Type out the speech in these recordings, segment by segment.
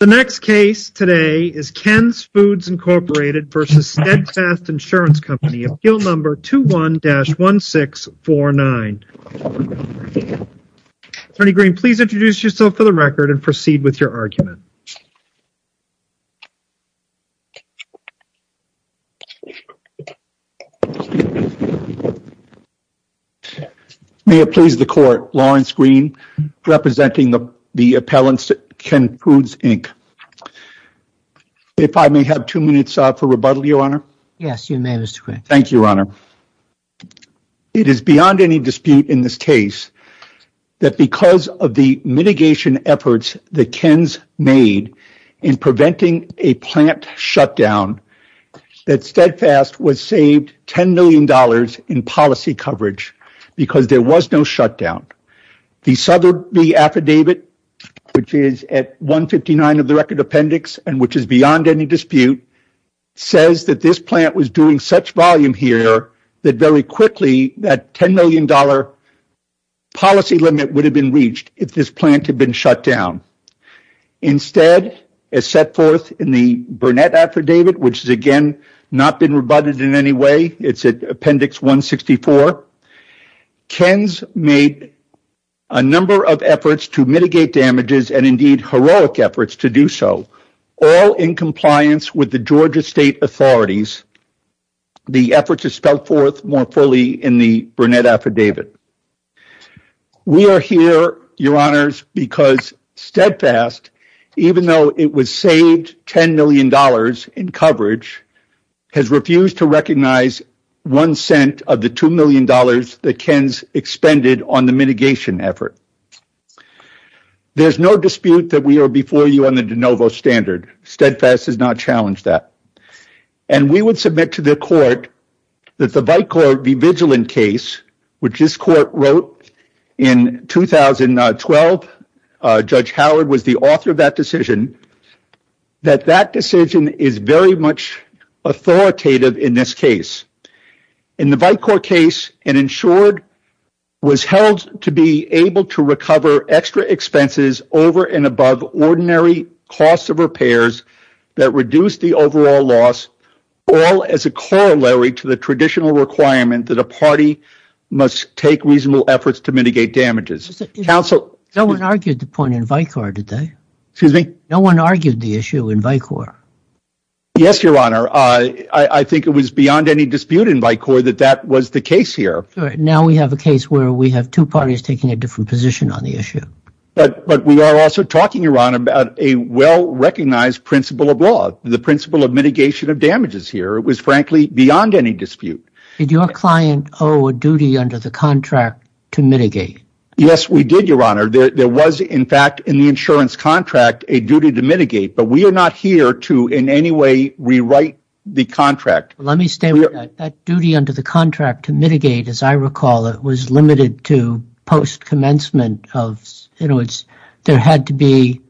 The next case today is Ken's Foods, Inc. v. Steadfast Insurance Company, Appeal Number 21-1649. Attorney Greene, please introduce yourself for the record and proceed with your argument. May it please the Court, Lawrence Greene, representing the appellants at Ken's Foods, Inc. If I may have two minutes for rebuttal, Your Honor. Yes, you may, Mr. Greene. Thank you, Your Honor. It is beyond any dispute in this case that because of the mitigation efforts that Ken's made in preventing a plant shutdown, that Steadfast was saved $10 million in policy coverage because there was no shutdown. The Sotheby's affidavit, which is at 159 of the record appendix and which is beyond any dispute, says that this plant was doing such volume here that very quickly that $10 million policy limit would have been reached if this plant had been shut down. Instead, as set forth in the Burnett affidavit, which has again not been rebutted in any way, it's at appendix 164, Ken's made a number of efforts to mitigate damages and indeed heroic efforts to do so, all in compliance with the Georgia State authorities. The efforts are spelled forth more fully in the Burnett affidavit. We are here, Your Honors, because Steadfast, even though it was that Ken's expended on the mitigation effort. There's no dispute that we are before you on the de novo standard. Steadfast has not challenged that. We would submit to the court that the Vitecourt v. Vigilant case, which this court wrote in 2012, Judge Howard was the author of that decision, that that decision is very much authoritative in this case. In the Vitecourt case, an insured was held to be able to recover extra expenses over and above ordinary costs of repairs that reduce the overall loss, all as a corollary to the traditional requirement that a party must take reasonable efforts to mitigate damages. No one argued the point in Vitecourt, did they? No one argued the issue in Vitecourt. Yes, Your Honor. I think it was beyond any dispute in Vitecourt that that was the case here. Now we have a case where we have two parties taking a different position on the issue. But we are also talking, Your Honor, about a well-recognized principle of law, the principle of mitigation of damages here. It was frankly beyond any dispute. Did your client owe a duty under the contract to mitigate? Yes, we did, Your Honor. There was, in fact, in the insurance contract, a duty to mitigate. But we are not here to in any way rewrite the contract. Let me stay with that. That duty under the contract to mitigate, as I recall, it was limited to post-commencement of, you know, there had to be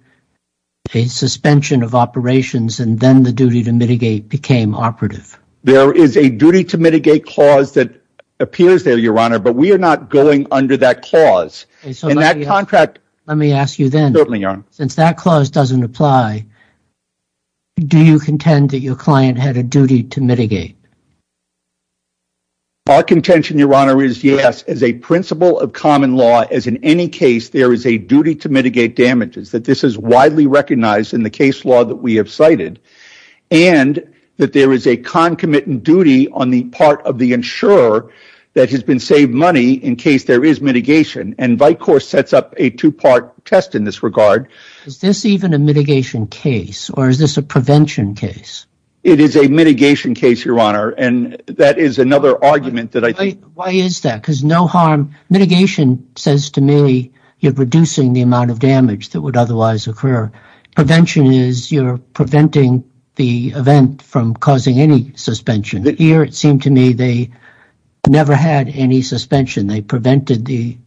a suspension of operations and then the duty to mitigate became operative. There is a duty to mitigate clause that appears there, Your Honor, but we are not going under that clause. Let me ask you then, since that clause doesn't apply, do you contend that your client had a duty to mitigate? Our contention, Your Honor, is yes, as a principle of common law, as in any case, there is a duty to mitigate damages, that this is widely recognized in the case law that we have cited, and that there is a concomitant duty on the part of the insurer that has been saved money in case there is mitigation, and Vicor sets up a two-part test in this regard. Is this even a mitigation case, or is this a prevention case? It is a mitigation case, Your Honor, and that is another argument that I think... Why is that? Because no harm... Mitigation says to me you're reducing the amount of damage that would otherwise occur. Prevention is you're preventing the event from causing any suspension. Here, it seemed to me they never had any suspension. They prevented the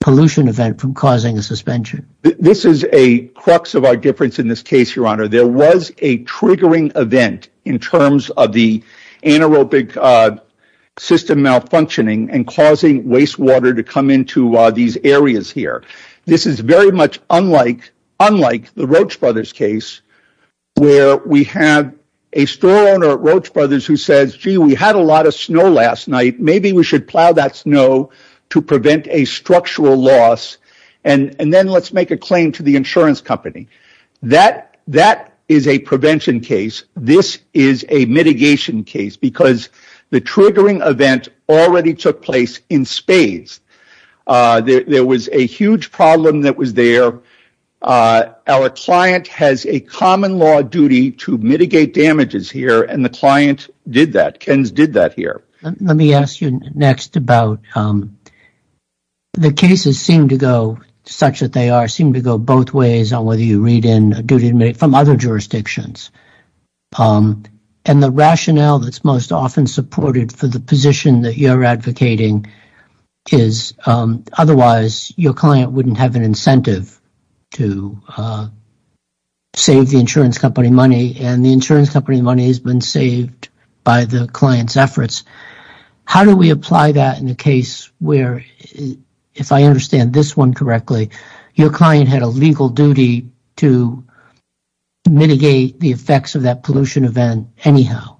pollution event from causing a suspension. This is a crux of our difference in this case, Your Honor. There was a triggering event in terms of the anaerobic system malfunctioning and causing wastewater to come into these areas here. This is very much unlike the Roach Brothers case where we have a store owner at Roach Brothers who says, gee, we had a lot of snow last night. Maybe we should plow that snow to prevent a structural loss, and then let's make a claim to the insurance company. That is a prevention case. This is a mitigation case because the triggering event already took place in spades. There was a huge problem that was there. Our client has a common law duty to mitigate damages here, and the client did that. KENS did that here. Let me ask you next about... The cases seem to go such that they are seem to go both ways on whether you read in a duty to mitigate from other jurisdictions. And the rationale that's most often supported for the position that you're advocating is otherwise your client wouldn't have an incentive to save the insurance company money, and the insurance company money has been saved by the client's efforts. How do we apply that in the case where, if I understand this one correctly, your client had a legal duty to mitigate the effects of that pollution event anyhow?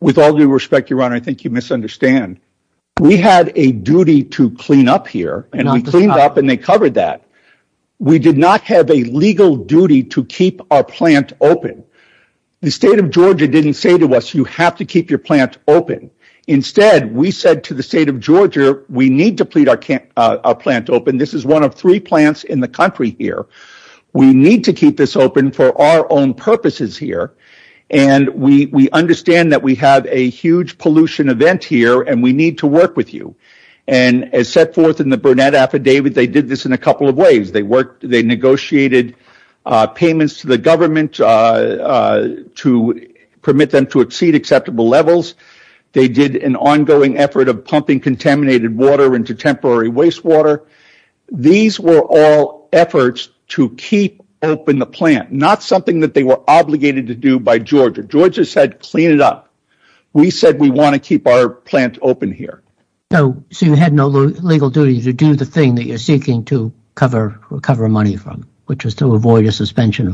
With all due respect, Your Honor, I think you misunderstand. We had a duty to clean up here, and we cleaned up and they covered that. We did not have a legal duty to keep our plant open. The state of Georgia didn't say to us, you have to keep your plant open. Instead, we said to the state of Georgia, we need to keep our plant open. This is one of three plants in the country here. We need to keep this open for our purposes here. We understand that we have a huge pollution event here and we need to work with you. As set forth in the Burnett Affidavit, they did this in a couple of ways. They negotiated payments to the government to permit them to exceed acceptable levels. They did an ongoing effort of pumping contaminated water into temporary wastewater. These were all efforts to keep open the plant, not something that they were obligated to do by Georgia. Georgia said, clean it up. We said, we want to keep our plant open here. You had no legal duty to do the thing that you're seeking to cover money from, which is to avoid a suspension?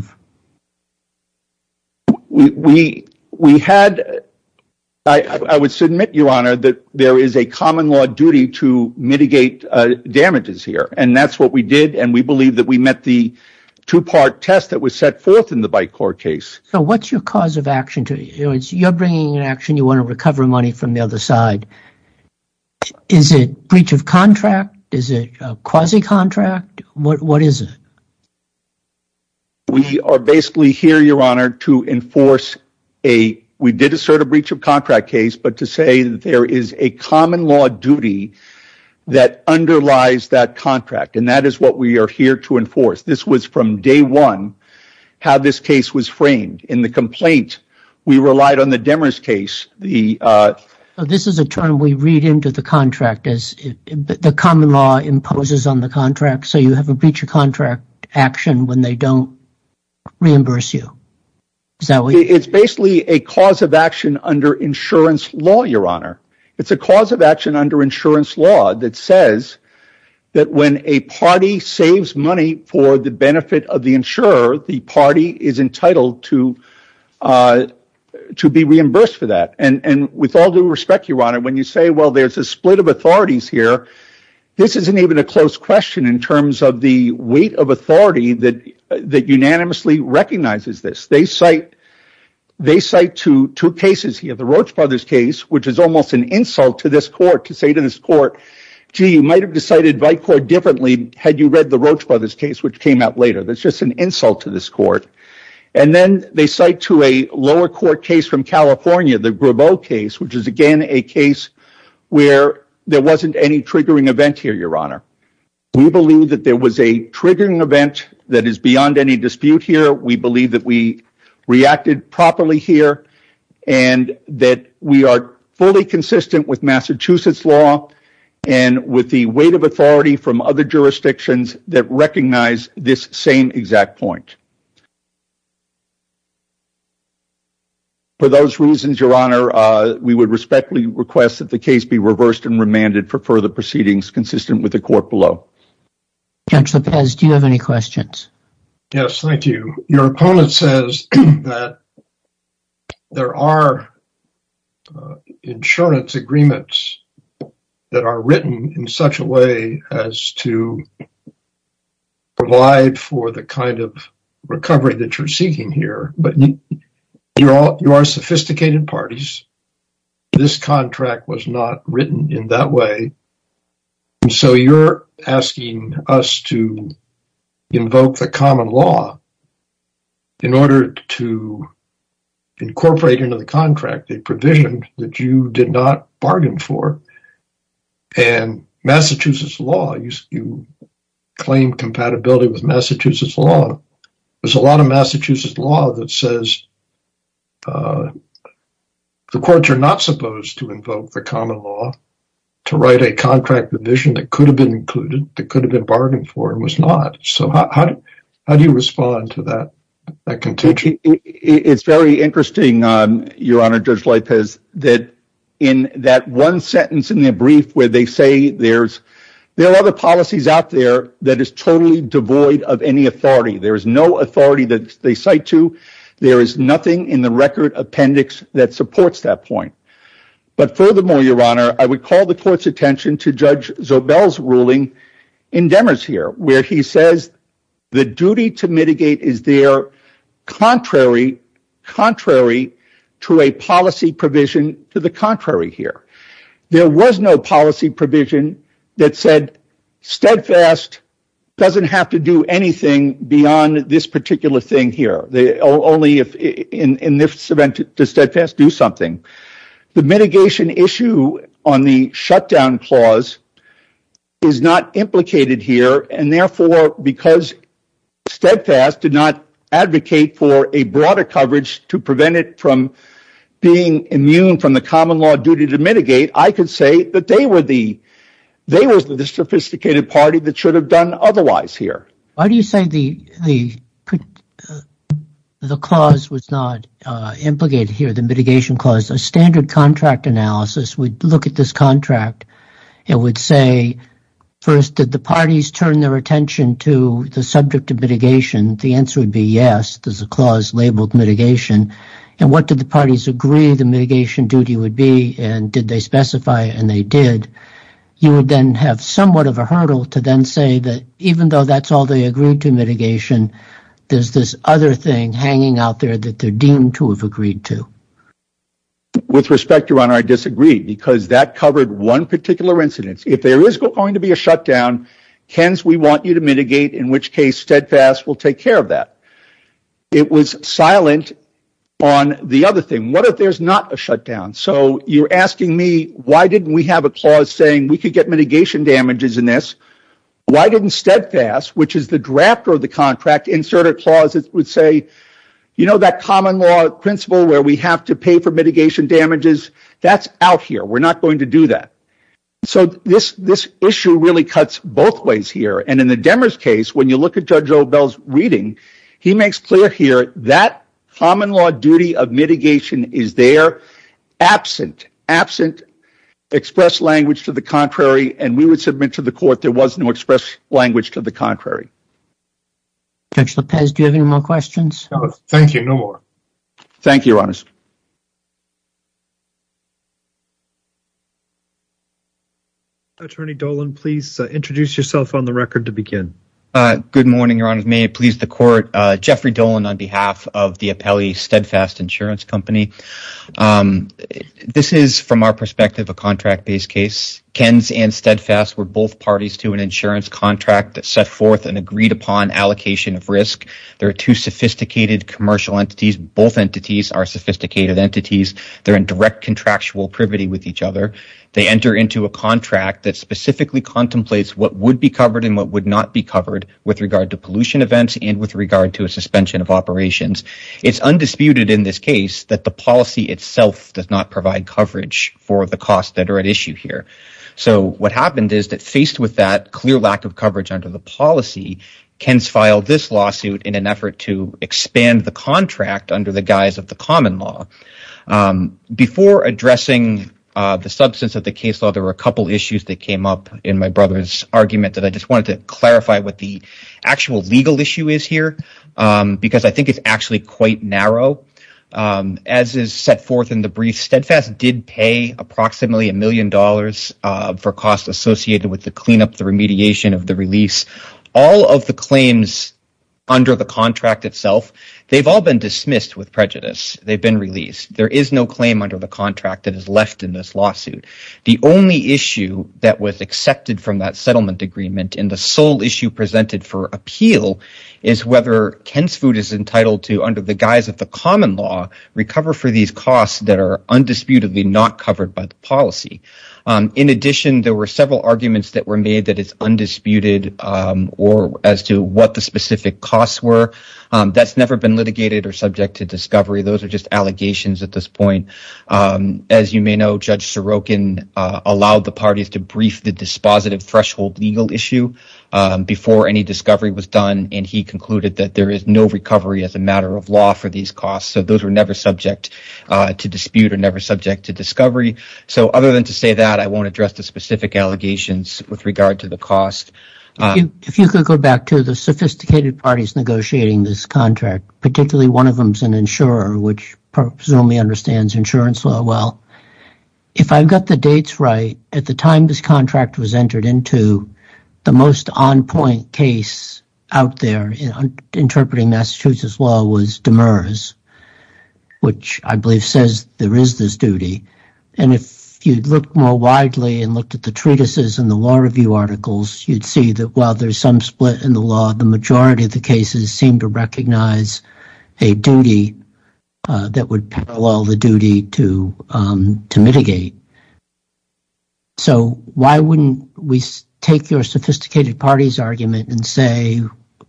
I would submit, Your Honor, that there is a common law duty to mitigate damages here. That's what we believe. We met the two-part test that was set forth in the BICOR case. What's your cause of action? You're bringing an action. You want to recover money from the other side. Is it a breach of contract? Is it a quasi-contract? What is it? We are basically here, Your Honor, to enforce a breach of contract case, but to say that there is a common law duty that underlies that contract. That is what we are here to enforce. This was from day one how this case was framed. In the complaint, we relied on the Demers case. This is a term we read into the contract. The common law imposes on the contract, so you have a breach of contract action when they don't reimburse you. It's basically a cause of action under insurance law, Your Honor. It's a cause of action under insurance law that says that when a party saves money for the benefit of the insurer, the party is entitled to be reimbursed for that. With all due respect, Your Honor, when you say there's a split of authorities here, this isn't even a close question in terms of the recognizes this. They cite two cases here. The Roach Brothers case, which is almost an insult to this court to say to this court, gee, you might have decided by court differently had you read the Roach Brothers case, which came out later. That's just an insult to this court. Then they cite to a lower court case from California, the Grabeau case, which is again a case where there wasn't any triggering event here, Your Honor. We believe that there was a triggering event that is beyond any dispute here. We believe that we reacted properly here and that we are fully consistent with Massachusetts law and with the weight of authority from other jurisdictions that recognize this same exact point. For those reasons, Your Honor, we would respectfully request that the case be reversed and remanded for further proceedings consistent with the court below. Judge Lopez, do you have any questions? Yes, thank you. Your opponent says that there are insurance agreements that are written in such a way as to provide for the kind of recovery that you're seeking here, but you are sophisticated parties. This contract was not written in that way, and so you're asking us to invoke the common law in order to incorporate into the contract a provision that you did not bargain for. And Massachusetts law, you claim compatibility with Massachusetts law. There's a lot of Massachusetts law that says the courts are not supposed to invoke the common law to write a contract provision that could have been included, that could have been bargained for, and was not. So how do you respond to that contention? It's very interesting, Your Honor, Judge Lopez, that in that one sentence in the brief where they say there are other authority that they cite to, there is nothing in the record appendix that supports that point. But furthermore, Your Honor, I would call the court's attention to Judge Zobel's ruling in Demers here, where he says the duty to mitigate is there contrary to a policy provision to the contrary here. There was no policy provision that said steadfast, doesn't have to do anything beyond this particular thing here. Only in this event does steadfast do something. The mitigation issue on the shutdown clause is not implicated here, and therefore because steadfast did not advocate for a broader coverage to prevent it from being immune from the common law duty to mitigate, I could say that they were the sophisticated party that should have done otherwise here. Why do you say the clause was not implicated here, the mitigation clause? A standard contract analysis would look at this contract and would say, first, did the parties turn their attention to the subject of mitigation? The answer would be yes, there's a clause labeled mitigation. And what did the parties agree the mitigation duty would be, and did they specify, and they did, you would then have somewhat of a hurdle to then say that even though that's all they agreed to mitigation, there's this other thing hanging out there that they're deemed to have agreed to. With respect, Your Honor, I disagree because that covered one particular incident. If there is going to be a shutdown, KENS, we want you to mitigate, in which case steadfast will take care of that. It was silent on the other thing. What if there's not a shutdown? You're asking me, why didn't we have a clause saying we could get mitigation damages in this? Why didn't steadfast, which is the drafter of the contract, insert a clause that would say, you know, that common law principle where we have to pay for mitigation damages, that's out here. We're not going to do that. This issue really cuts both ways here, and in the Demers case, when you look at Judge Obell's reading, he makes clear here that common duty of mitigation is there, absent express language to the contrary, and we would submit to the court there was no express language to the contrary. Judge Lopez, do you have any more questions? No, thank you. No more. Thank you, Your Honor. Attorney Dolan, please introduce yourself on the record to begin. Good morning, Your Honor. May it steadfast insurance company. This is, from our perspective, a contract-based case. Ken's and steadfast were both parties to an insurance contract that set forth an agreed-upon allocation of risk. There are two sophisticated commercial entities. Both entities are sophisticated entities. They're in direct contractual privity with each other. They enter into a contract that specifically contemplates what would be covered and what would not be covered with regard to undisputed in this case that the policy itself does not provide coverage for the costs that are at issue here. So what happened is that, faced with that clear lack of coverage under the policy, Ken's filed this lawsuit in an effort to expand the contract under the guise of the common law. Before addressing the substance of the case law, there were a couple issues that came up in my brother's argument that I just wanted to clarify what the actual legal issue is here because I think it's actually quite narrow. As is set forth in the brief, steadfast did pay approximately $1 million for costs associated with the cleanup, the remediation of the release. All of the claims under the contract itself, they've all been dismissed with prejudice. They've been released. There is no claim under the contract that is left in this lawsuit. The only issue that was accepted from that settlement agreement and the sole issue presented for appeal is whether Ken's Food is entitled to, under the guise of the common law, recover for these costs that are undisputedly not covered by the policy. In addition, there were several arguments that were made that it's undisputed or as to what the specific costs were. That's never been litigated or subject to discovery. Those are just allegations at this point. As you may know, Judge Sorokin allowed the parties to brief the dispositive threshold legal before any discovery was done. He concluded that there is no recovery as a matter of law for these costs. Those were never subject to dispute or never subject to discovery. Other than to say that, I won't address the specific allegations with regard to the cost. If you could go back to the sophisticated parties negotiating this contract, particularly one of them is an insurer which presumably understands insurance law well. If I've got the dates right, at the time this most on-point case out there interpreting Massachusetts law was Demers, which I believe says there is this duty. If you'd look more widely and looked at the treatises and the law review articles, you'd see that while there's some split in the law, the majority of the cases seem to recognize a duty that would parallel the duty to mitigate. Why wouldn't we take your sophisticated parties argument and say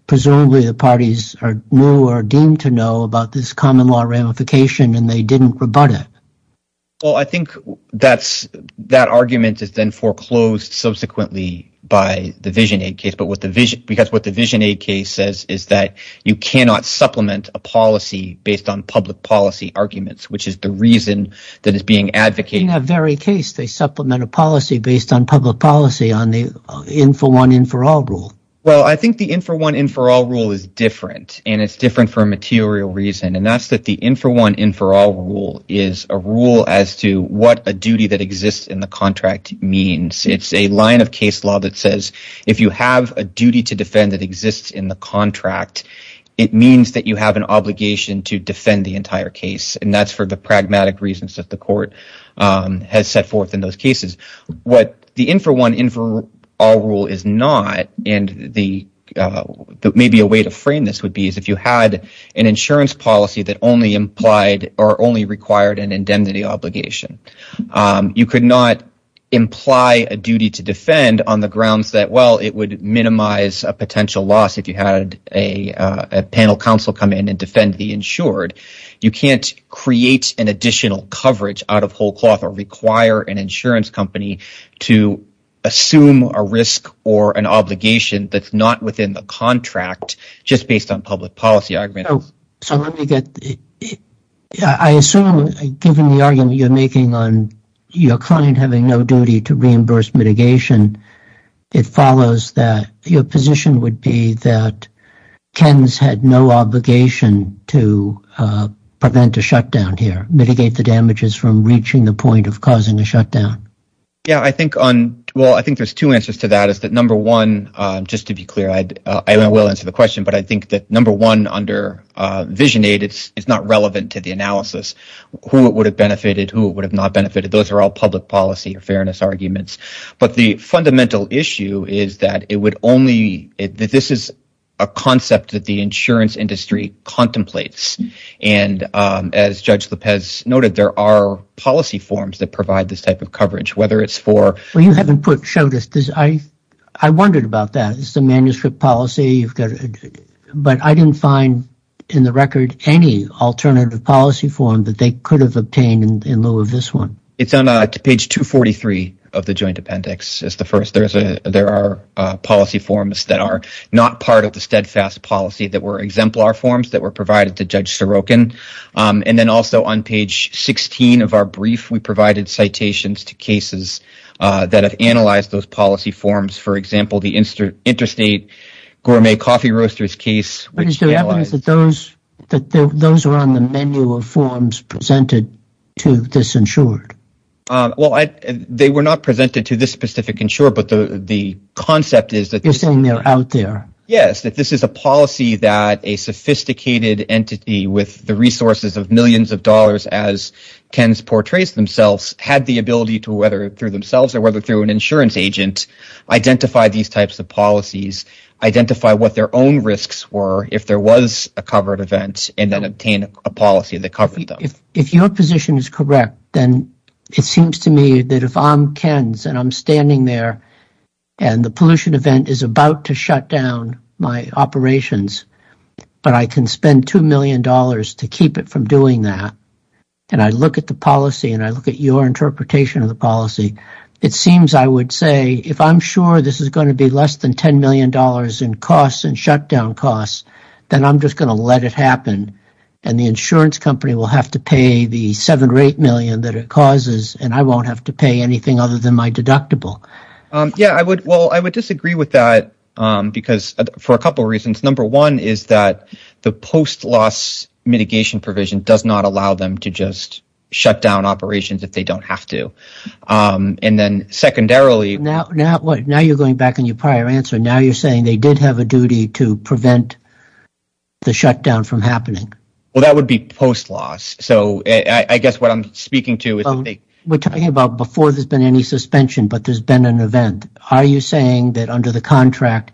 presumably the parties are new or deemed to know about this common law ramification and they didn't rebut it? I think that argument is then foreclosed subsequently by the VisionAid case because what the VisionAid case says is that you cannot supplement a policy based on public policy arguments, which is the reason that is being advocated. I think the in-for-one, in-for-all rule is different and it's different for a material reason and that's that the in-for-one, in-for-all rule is a rule as to what a duty that exists in the contract means. It's a line of case law that says if you have a duty to defend that exists in the contract, it means that you have an obligation to defend the entire case and that's for the pragmatic reasons that the court has set forth in those cases. What the in-for-one, in-for-all rule is not and maybe a way to frame this would be is if you had an insurance policy that only required an indemnity obligation, you could not imply a duty to defend on the grounds that it would minimize a potential loss if you had a panel counsel come in and defend the insured. You can't create an additional coverage out of whole cloth or require an insurance company to assume a risk or an obligation that's not within the contract just based on public policy arguments. I assume given the argument you're making on your client having no duty to reimburse mitigation, it follows that your position would be that Ken's had no obligation to prevent a shutdown here, mitigate the damages from reaching the point of causing a shutdown. Yeah, I think there's two answers to that is that number one, just to be clear, I will answer the question but I think that number one under Vision Aid, it's not relevant to the analysis, who it would have benefited, who it would have not benefited. Those are all public policy or fairness arguments but the fundamental issue is that this is a concept that the insurance industry contemplates and as Judge Lopez noted, there are policy forms that provide this type of coverage, whether it's for... Well, you haven't showed us this. I wondered about that. It's a manuscript policy but I didn't find in the record any alternative policy form that they could have obtained in lieu of this one. It's on page 243 of the joint appendix. It's the first. There are policy forms that are not part of the steadfast policy that were exemplar forms that were provided to Judge Sorokin and then also on page 16 of our brief, we provided citations to cases that have analyzed those policy forms. For example, the interstate gourmet coffee roasters case. What is the evidence that those were on the menu of forms presented to this insured? Well, they were not presented to this specific insured but the concept is that... You're saying they're out there. Yes, that this is a policy that a sophisticated entity with the resources of millions of dollars as Ken's portrays themselves had the ability to weather through themselves or whether through an insurance agent, identify these types of policies, identify what their own risks were if there was a covered event and then obtain a policy that covered them. If your position is correct, then it seems to me that if I'm Ken's and I'm standing there and the pollution event is about to shut down my operations but I can spend $2 million to keep it from doing that and I look at the policy and I look at your interpretation of the policy, it seems I would say if I'm sure this is going to be less than $10 million in costs and shutdown costs, then I'm just going to let it happen and the insurance company will have to pay the $7 or $8 million that it causes and I won't have to pay anything other than my deductible. Yes, I would disagree with that because for a couple of reasons. Number one is that the post-loss mitigation provision does not allow them to just shut down operations if they don't have to and then secondarily... Now you're going back on your prior answer. Now you're saying they did have a duty to prevent the shutdown from happening. Well, that would be post-loss. So I guess what I'm speaking to is... We're talking about before there's been any suspension but there's been an event. Are you saying that under the contract,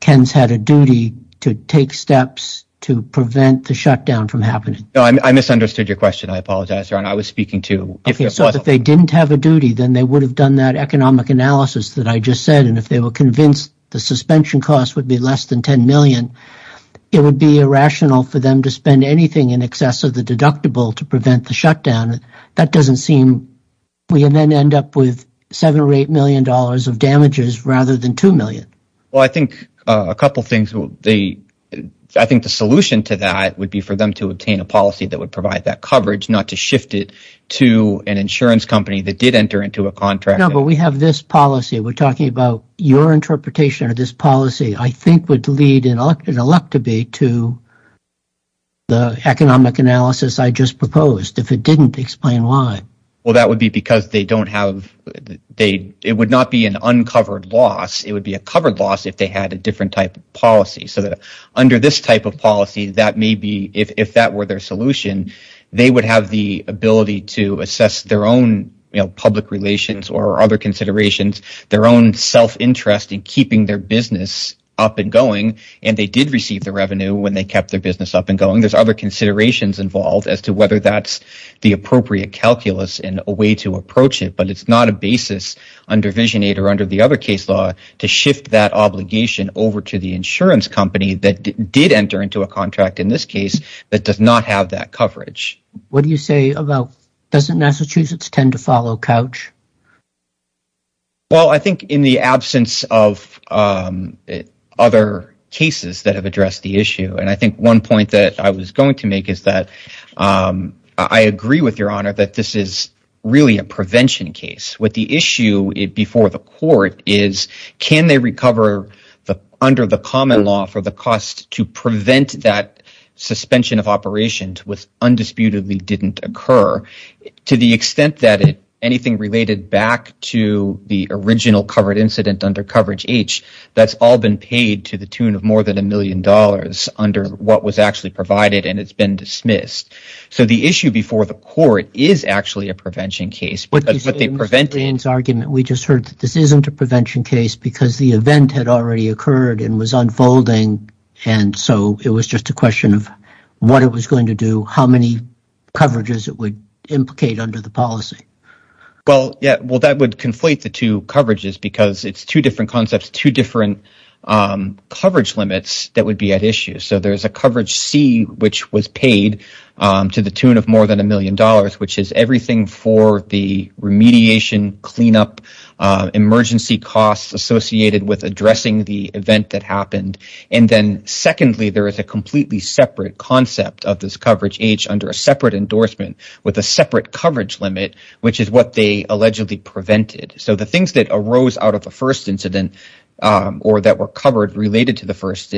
Ken's had a duty to take steps to prevent the shutdown from happening? I misunderstood your question. I apologize, Ron. I was speaking to... If they didn't have a duty, then they would have done that economic analysis that I just said and if they were convinced the suspension cost would be less than $10 million, it would be irrational for them to spend anything in excess of the deductible to prevent the shutdown. That doesn't seem... We then end up with $7 or $8 million of damages rather than $2 million. Well, I think a couple of things... I think the solution to that would be for them to obtain a policy that would provide that coverage, not to shift it to an insurance company that did enter into a contract. We have this policy. We're talking about your interpretation of this policy, I think, would lead in an elective to the economic analysis I just proposed. If it didn't, explain why. Well, that would be because they don't have... It would not be an uncovered loss. It would be a covered loss if they had a different type of policy so that under this type of policy, that may be... If that were their solution, they would have the ability to assess their own public relations or other considerations, their own self-interest in keeping their business up and going and they did receive the revenue when they kept their business up and going. There's other considerations involved as to whether that's the appropriate calculus and a way to approach it, but it's not a basis under Vision 8 or under the other case law to shift that obligation over to the insurance company that did enter into a contract in this case that does not have that coverage. What do you say about... Doesn't Massachusetts tend to follow Couch? Well, I think in the absence of other cases that have addressed the issue, and I think one point that I was going to make is that I agree with your honor that this is really a prevention case. What the issue before the court is, can they recover under the common law for the cost to undisputedly didn't occur to the extent that anything related back to the original covered incident under coverage H, that's all been paid to the tune of more than a million dollars under what was actually provided and it's been dismissed. So the issue before the court is actually a prevention case, but they prevent... Dan's argument, we just heard that this isn't a prevention case because the event had already occurred and was unfolding and so it was just a question of what it was going to do, how many coverages it would implicate under the policy. Well, yeah. Well, that would conflate the two coverages because it's two different concepts, two different coverage limits that would be at issue. So there's a coverage C, which was paid to the tune of more than a million dollars, which is everything for the remediation, cleanup, emergency costs associated with addressing the event that happened. And then secondly, there is a completely separate concept of this coverage H under a separate endorsement with a separate coverage limit, which is what they allegedly prevented. So the things that arose out of the first incident or that were covered related to the first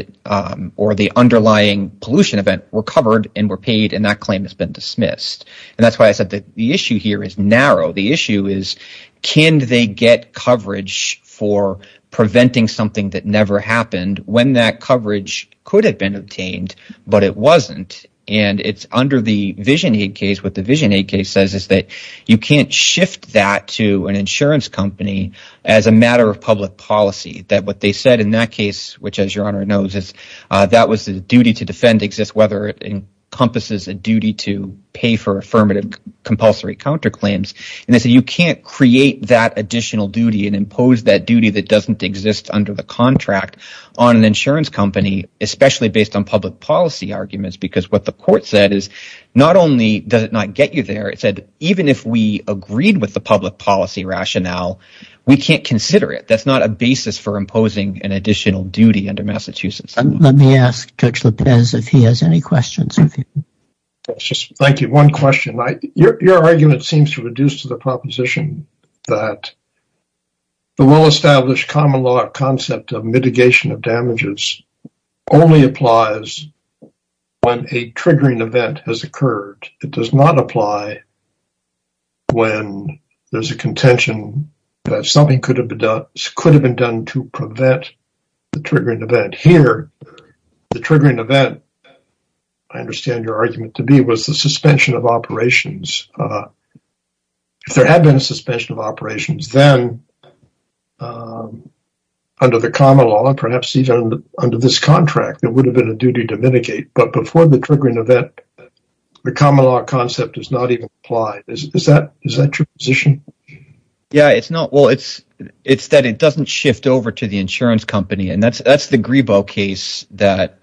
or the underlying pollution event were covered and were paid and that claim has been dismissed. And that's why I said that the issue here is narrow. The issue is, can they get coverage for preventing something that never happened when that coverage could have been obtained, but it wasn't? And it's under the Vision Aid case. What the Vision Aid case says is that you can't shift that to an insurance company as a matter of public policy, that what they said in that case, which as your honor knows, is that was the duty to defend exists, whether it encompasses a duty to pay for affirmative compulsory counterclaims. And they say you can't create that additional duty and impose that duty that doesn't exist under the contract on an insurance company, especially based on public policy arguments, because what the court said is not only does it not get you there, it said even if we agreed with the public policy rationale, we can't consider it. That's not a basis for imposing an additional duty under Massachusetts. Let me ask Judge Lopez if he has any questions. Thank you. One question. Your argument seems to reduce to the proposition that the well-established common law concept of mitigation of damages only applies when a triggering event has occurred. It does not apply when there's a contention that something could have been done to prevent the triggering event. Here, the triggering event, I understand your argument to be, was the suspension of operations. If there had been a suspension of operations, then under the common law, perhaps even under this contract, it would have been a duty to mitigate. But before the triggering event, the common law concept does not even apply. Is that your position? It's that it doesn't shift over to the insurance company. That's the Grebo case that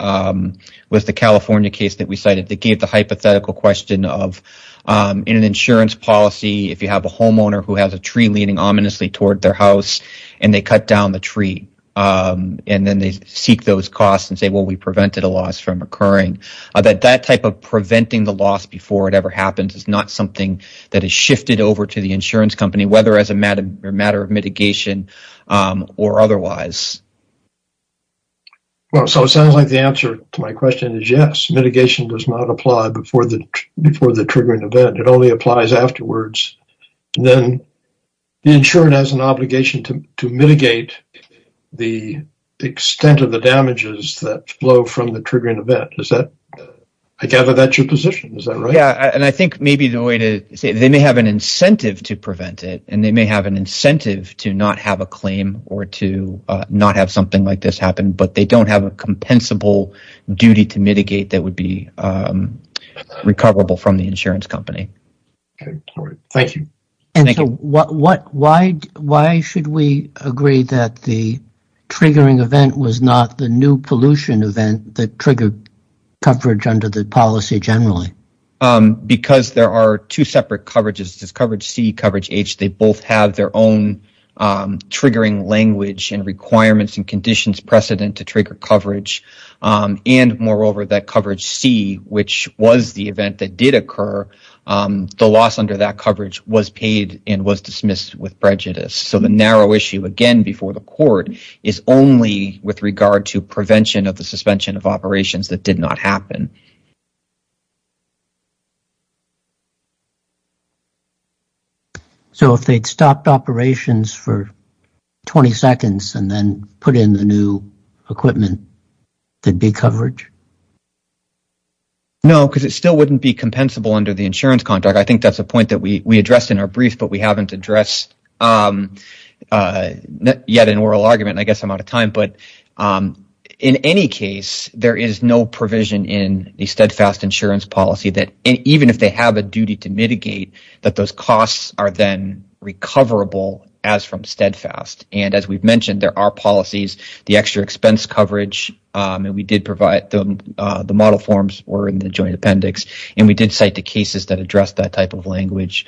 was the California case that we cited that gave the hypothetical question of in an insurance policy, if you have a homeowner who has a tree leaning ominously toward their house and they cut down the tree and then they seek those costs and say, well, we prevented a loss from occurring, that that type of preventing the loss before it ever happens is not something that is shifted over to the insurance company, whether as a matter of mitigation or otherwise. Well, so it sounds like the answer to my question is yes. Mitigation does not apply before the triggering event. It only applies afterwards. Then the insurer has an obligation to mitigate the extent of the damages that flow from the triggering event. I gather that's your to say they may have an incentive to prevent it and they may have an incentive to not have a claim or to not have something like this happen, but they don't have a compensable duty to mitigate that would be recoverable from the insurance company. Thank you. Thank you. Why should we agree that the triggering event was not the new pollution event that triggered coverage under the policy generally? Because there are two separate coverages, coverage C, coverage H. They both have their own triggering language and requirements and conditions precedent to trigger coverage. And moreover, that coverage C, which was the event that did occur, the loss under that coverage was paid and was dismissed with prejudice. So the narrow issue, again, before the court is only with regard to prevention of the suspension of operations that did not happen. So if they'd stopped operations for 20 seconds and then put in the new equipment, there'd be coverage? No, because it still wouldn't be compensable under the insurance contract. I think that's a point that we addressed in our brief, but we haven't addressed yet an oral argument. I guess I'm out of time. But in any case, there is no provision in the steadfast insurance policy that even if they have a duty to mitigate, that those costs are then recoverable as from steadfast. And as we've mentioned, there are policies, the extra expense coverage. And we did provide the model forms or in the joint appendix. And we did cite the cases that address that type of language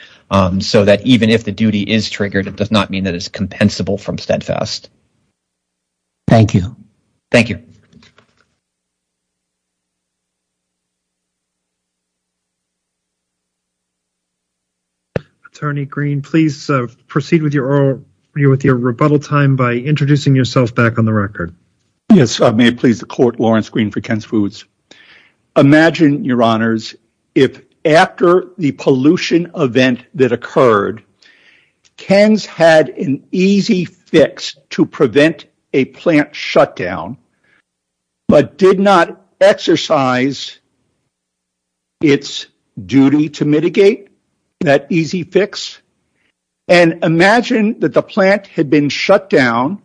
so that even if the duty is triggered, it does not mean that it's compensable from steadfast. Thank you. Thank you. Attorney Green, please proceed with your rebuttal time by introducing yourself back on the record. Yes, may it please the court, Lawrence Green for Ken's Foods. Imagine, your honors, if after the pollution event that occurred, Ken's had an easy fix to prevent a plant shutdown, but did not exercise its duty to mitigate that easy fix. And imagine that the plant had been shut down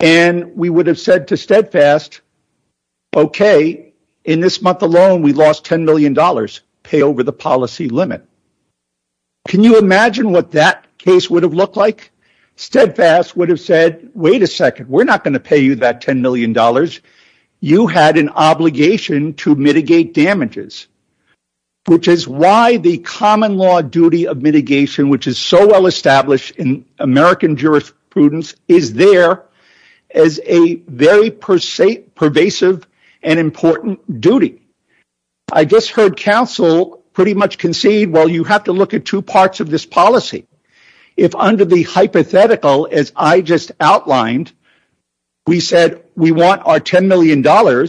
and we would have said to steadfast, OK, in this month alone, we lost $10 million pay over the policy limit. Can you imagine what that case would have looked like? Steadfast would have said, wait a second, we're not going to pay you that $10 million. You had an obligation to mitigate damages, which is why the common law duty of mitigation, which is so well established in American jurisprudence, is there as a very pervasive and important duty. I just heard counsel pretty much concede, well, you have to look at two parts of this policy. If under the hypothetical, as I just outlined, we said we want our $10 million, $10 million,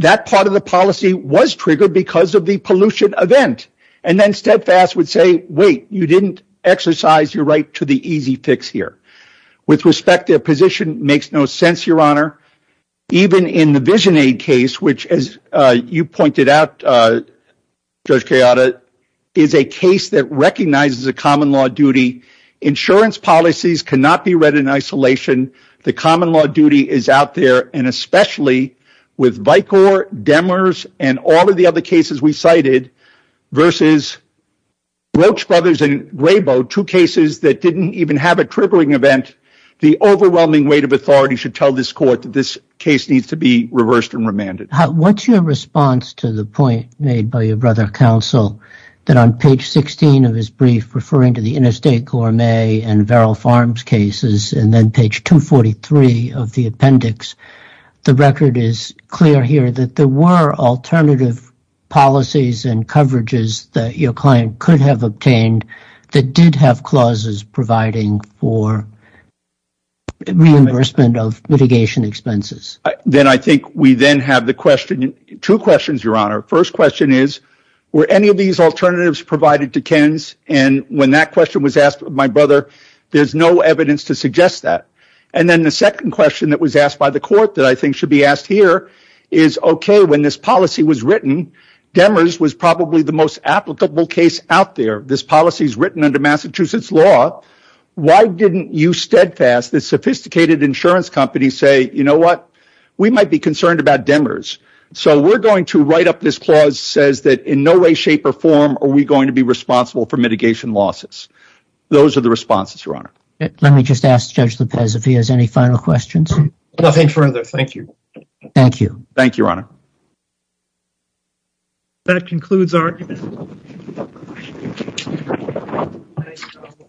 that part of the policy was triggered because of the pollution event. And then steadfast would say, wait, you didn't exercise your right to the easy fix here. With respect to a position that makes no sense, your honor, even in the VisionAid case, which, as you pointed out, Judge Kayada, is a case that recognizes a common law duty. Insurance policies cannot be read in isolation. The common law duty is out there, and especially with Vicor, Demers, and all of the other cases we cited versus Roach Brothers and Rabo, two cases that didn't even have a triggering event, the overwhelming weight of authority should tell this court that this case needs to be reversed and remanded. What's your response to the point made by your brother counsel that on page 16 of his brief referring to the interstate gourmet and Verrill Farms cases and then page 243 of the appendix, the record is clear here that there were alternative policies and coverages that your client could have obtained that did have clauses providing for reimbursement of litigation expenses? Then I think we then have the question, two questions, your honor. The first question is, were any of these alternatives provided to Ken's? When that question was asked of my brother, there's no evidence to suggest that. Then the second question that was asked by the court that I think should be asked here is, okay, when this policy was written, Demers was probably the most applicable case out there. This policy is written under Massachusetts law. Why didn't you steadfast, the sophisticated insurance companies say, you know what? We might be concerned about Demers. We're going to write up this clause that says in no way, shape, or form are we going to be responsible for mitigation losses. Those are the responses, your honor. Let me just ask Judge Lopez if he has any final questions. Nothing further. Thank you. Thank you. Thank you, your honor. That concludes our argument.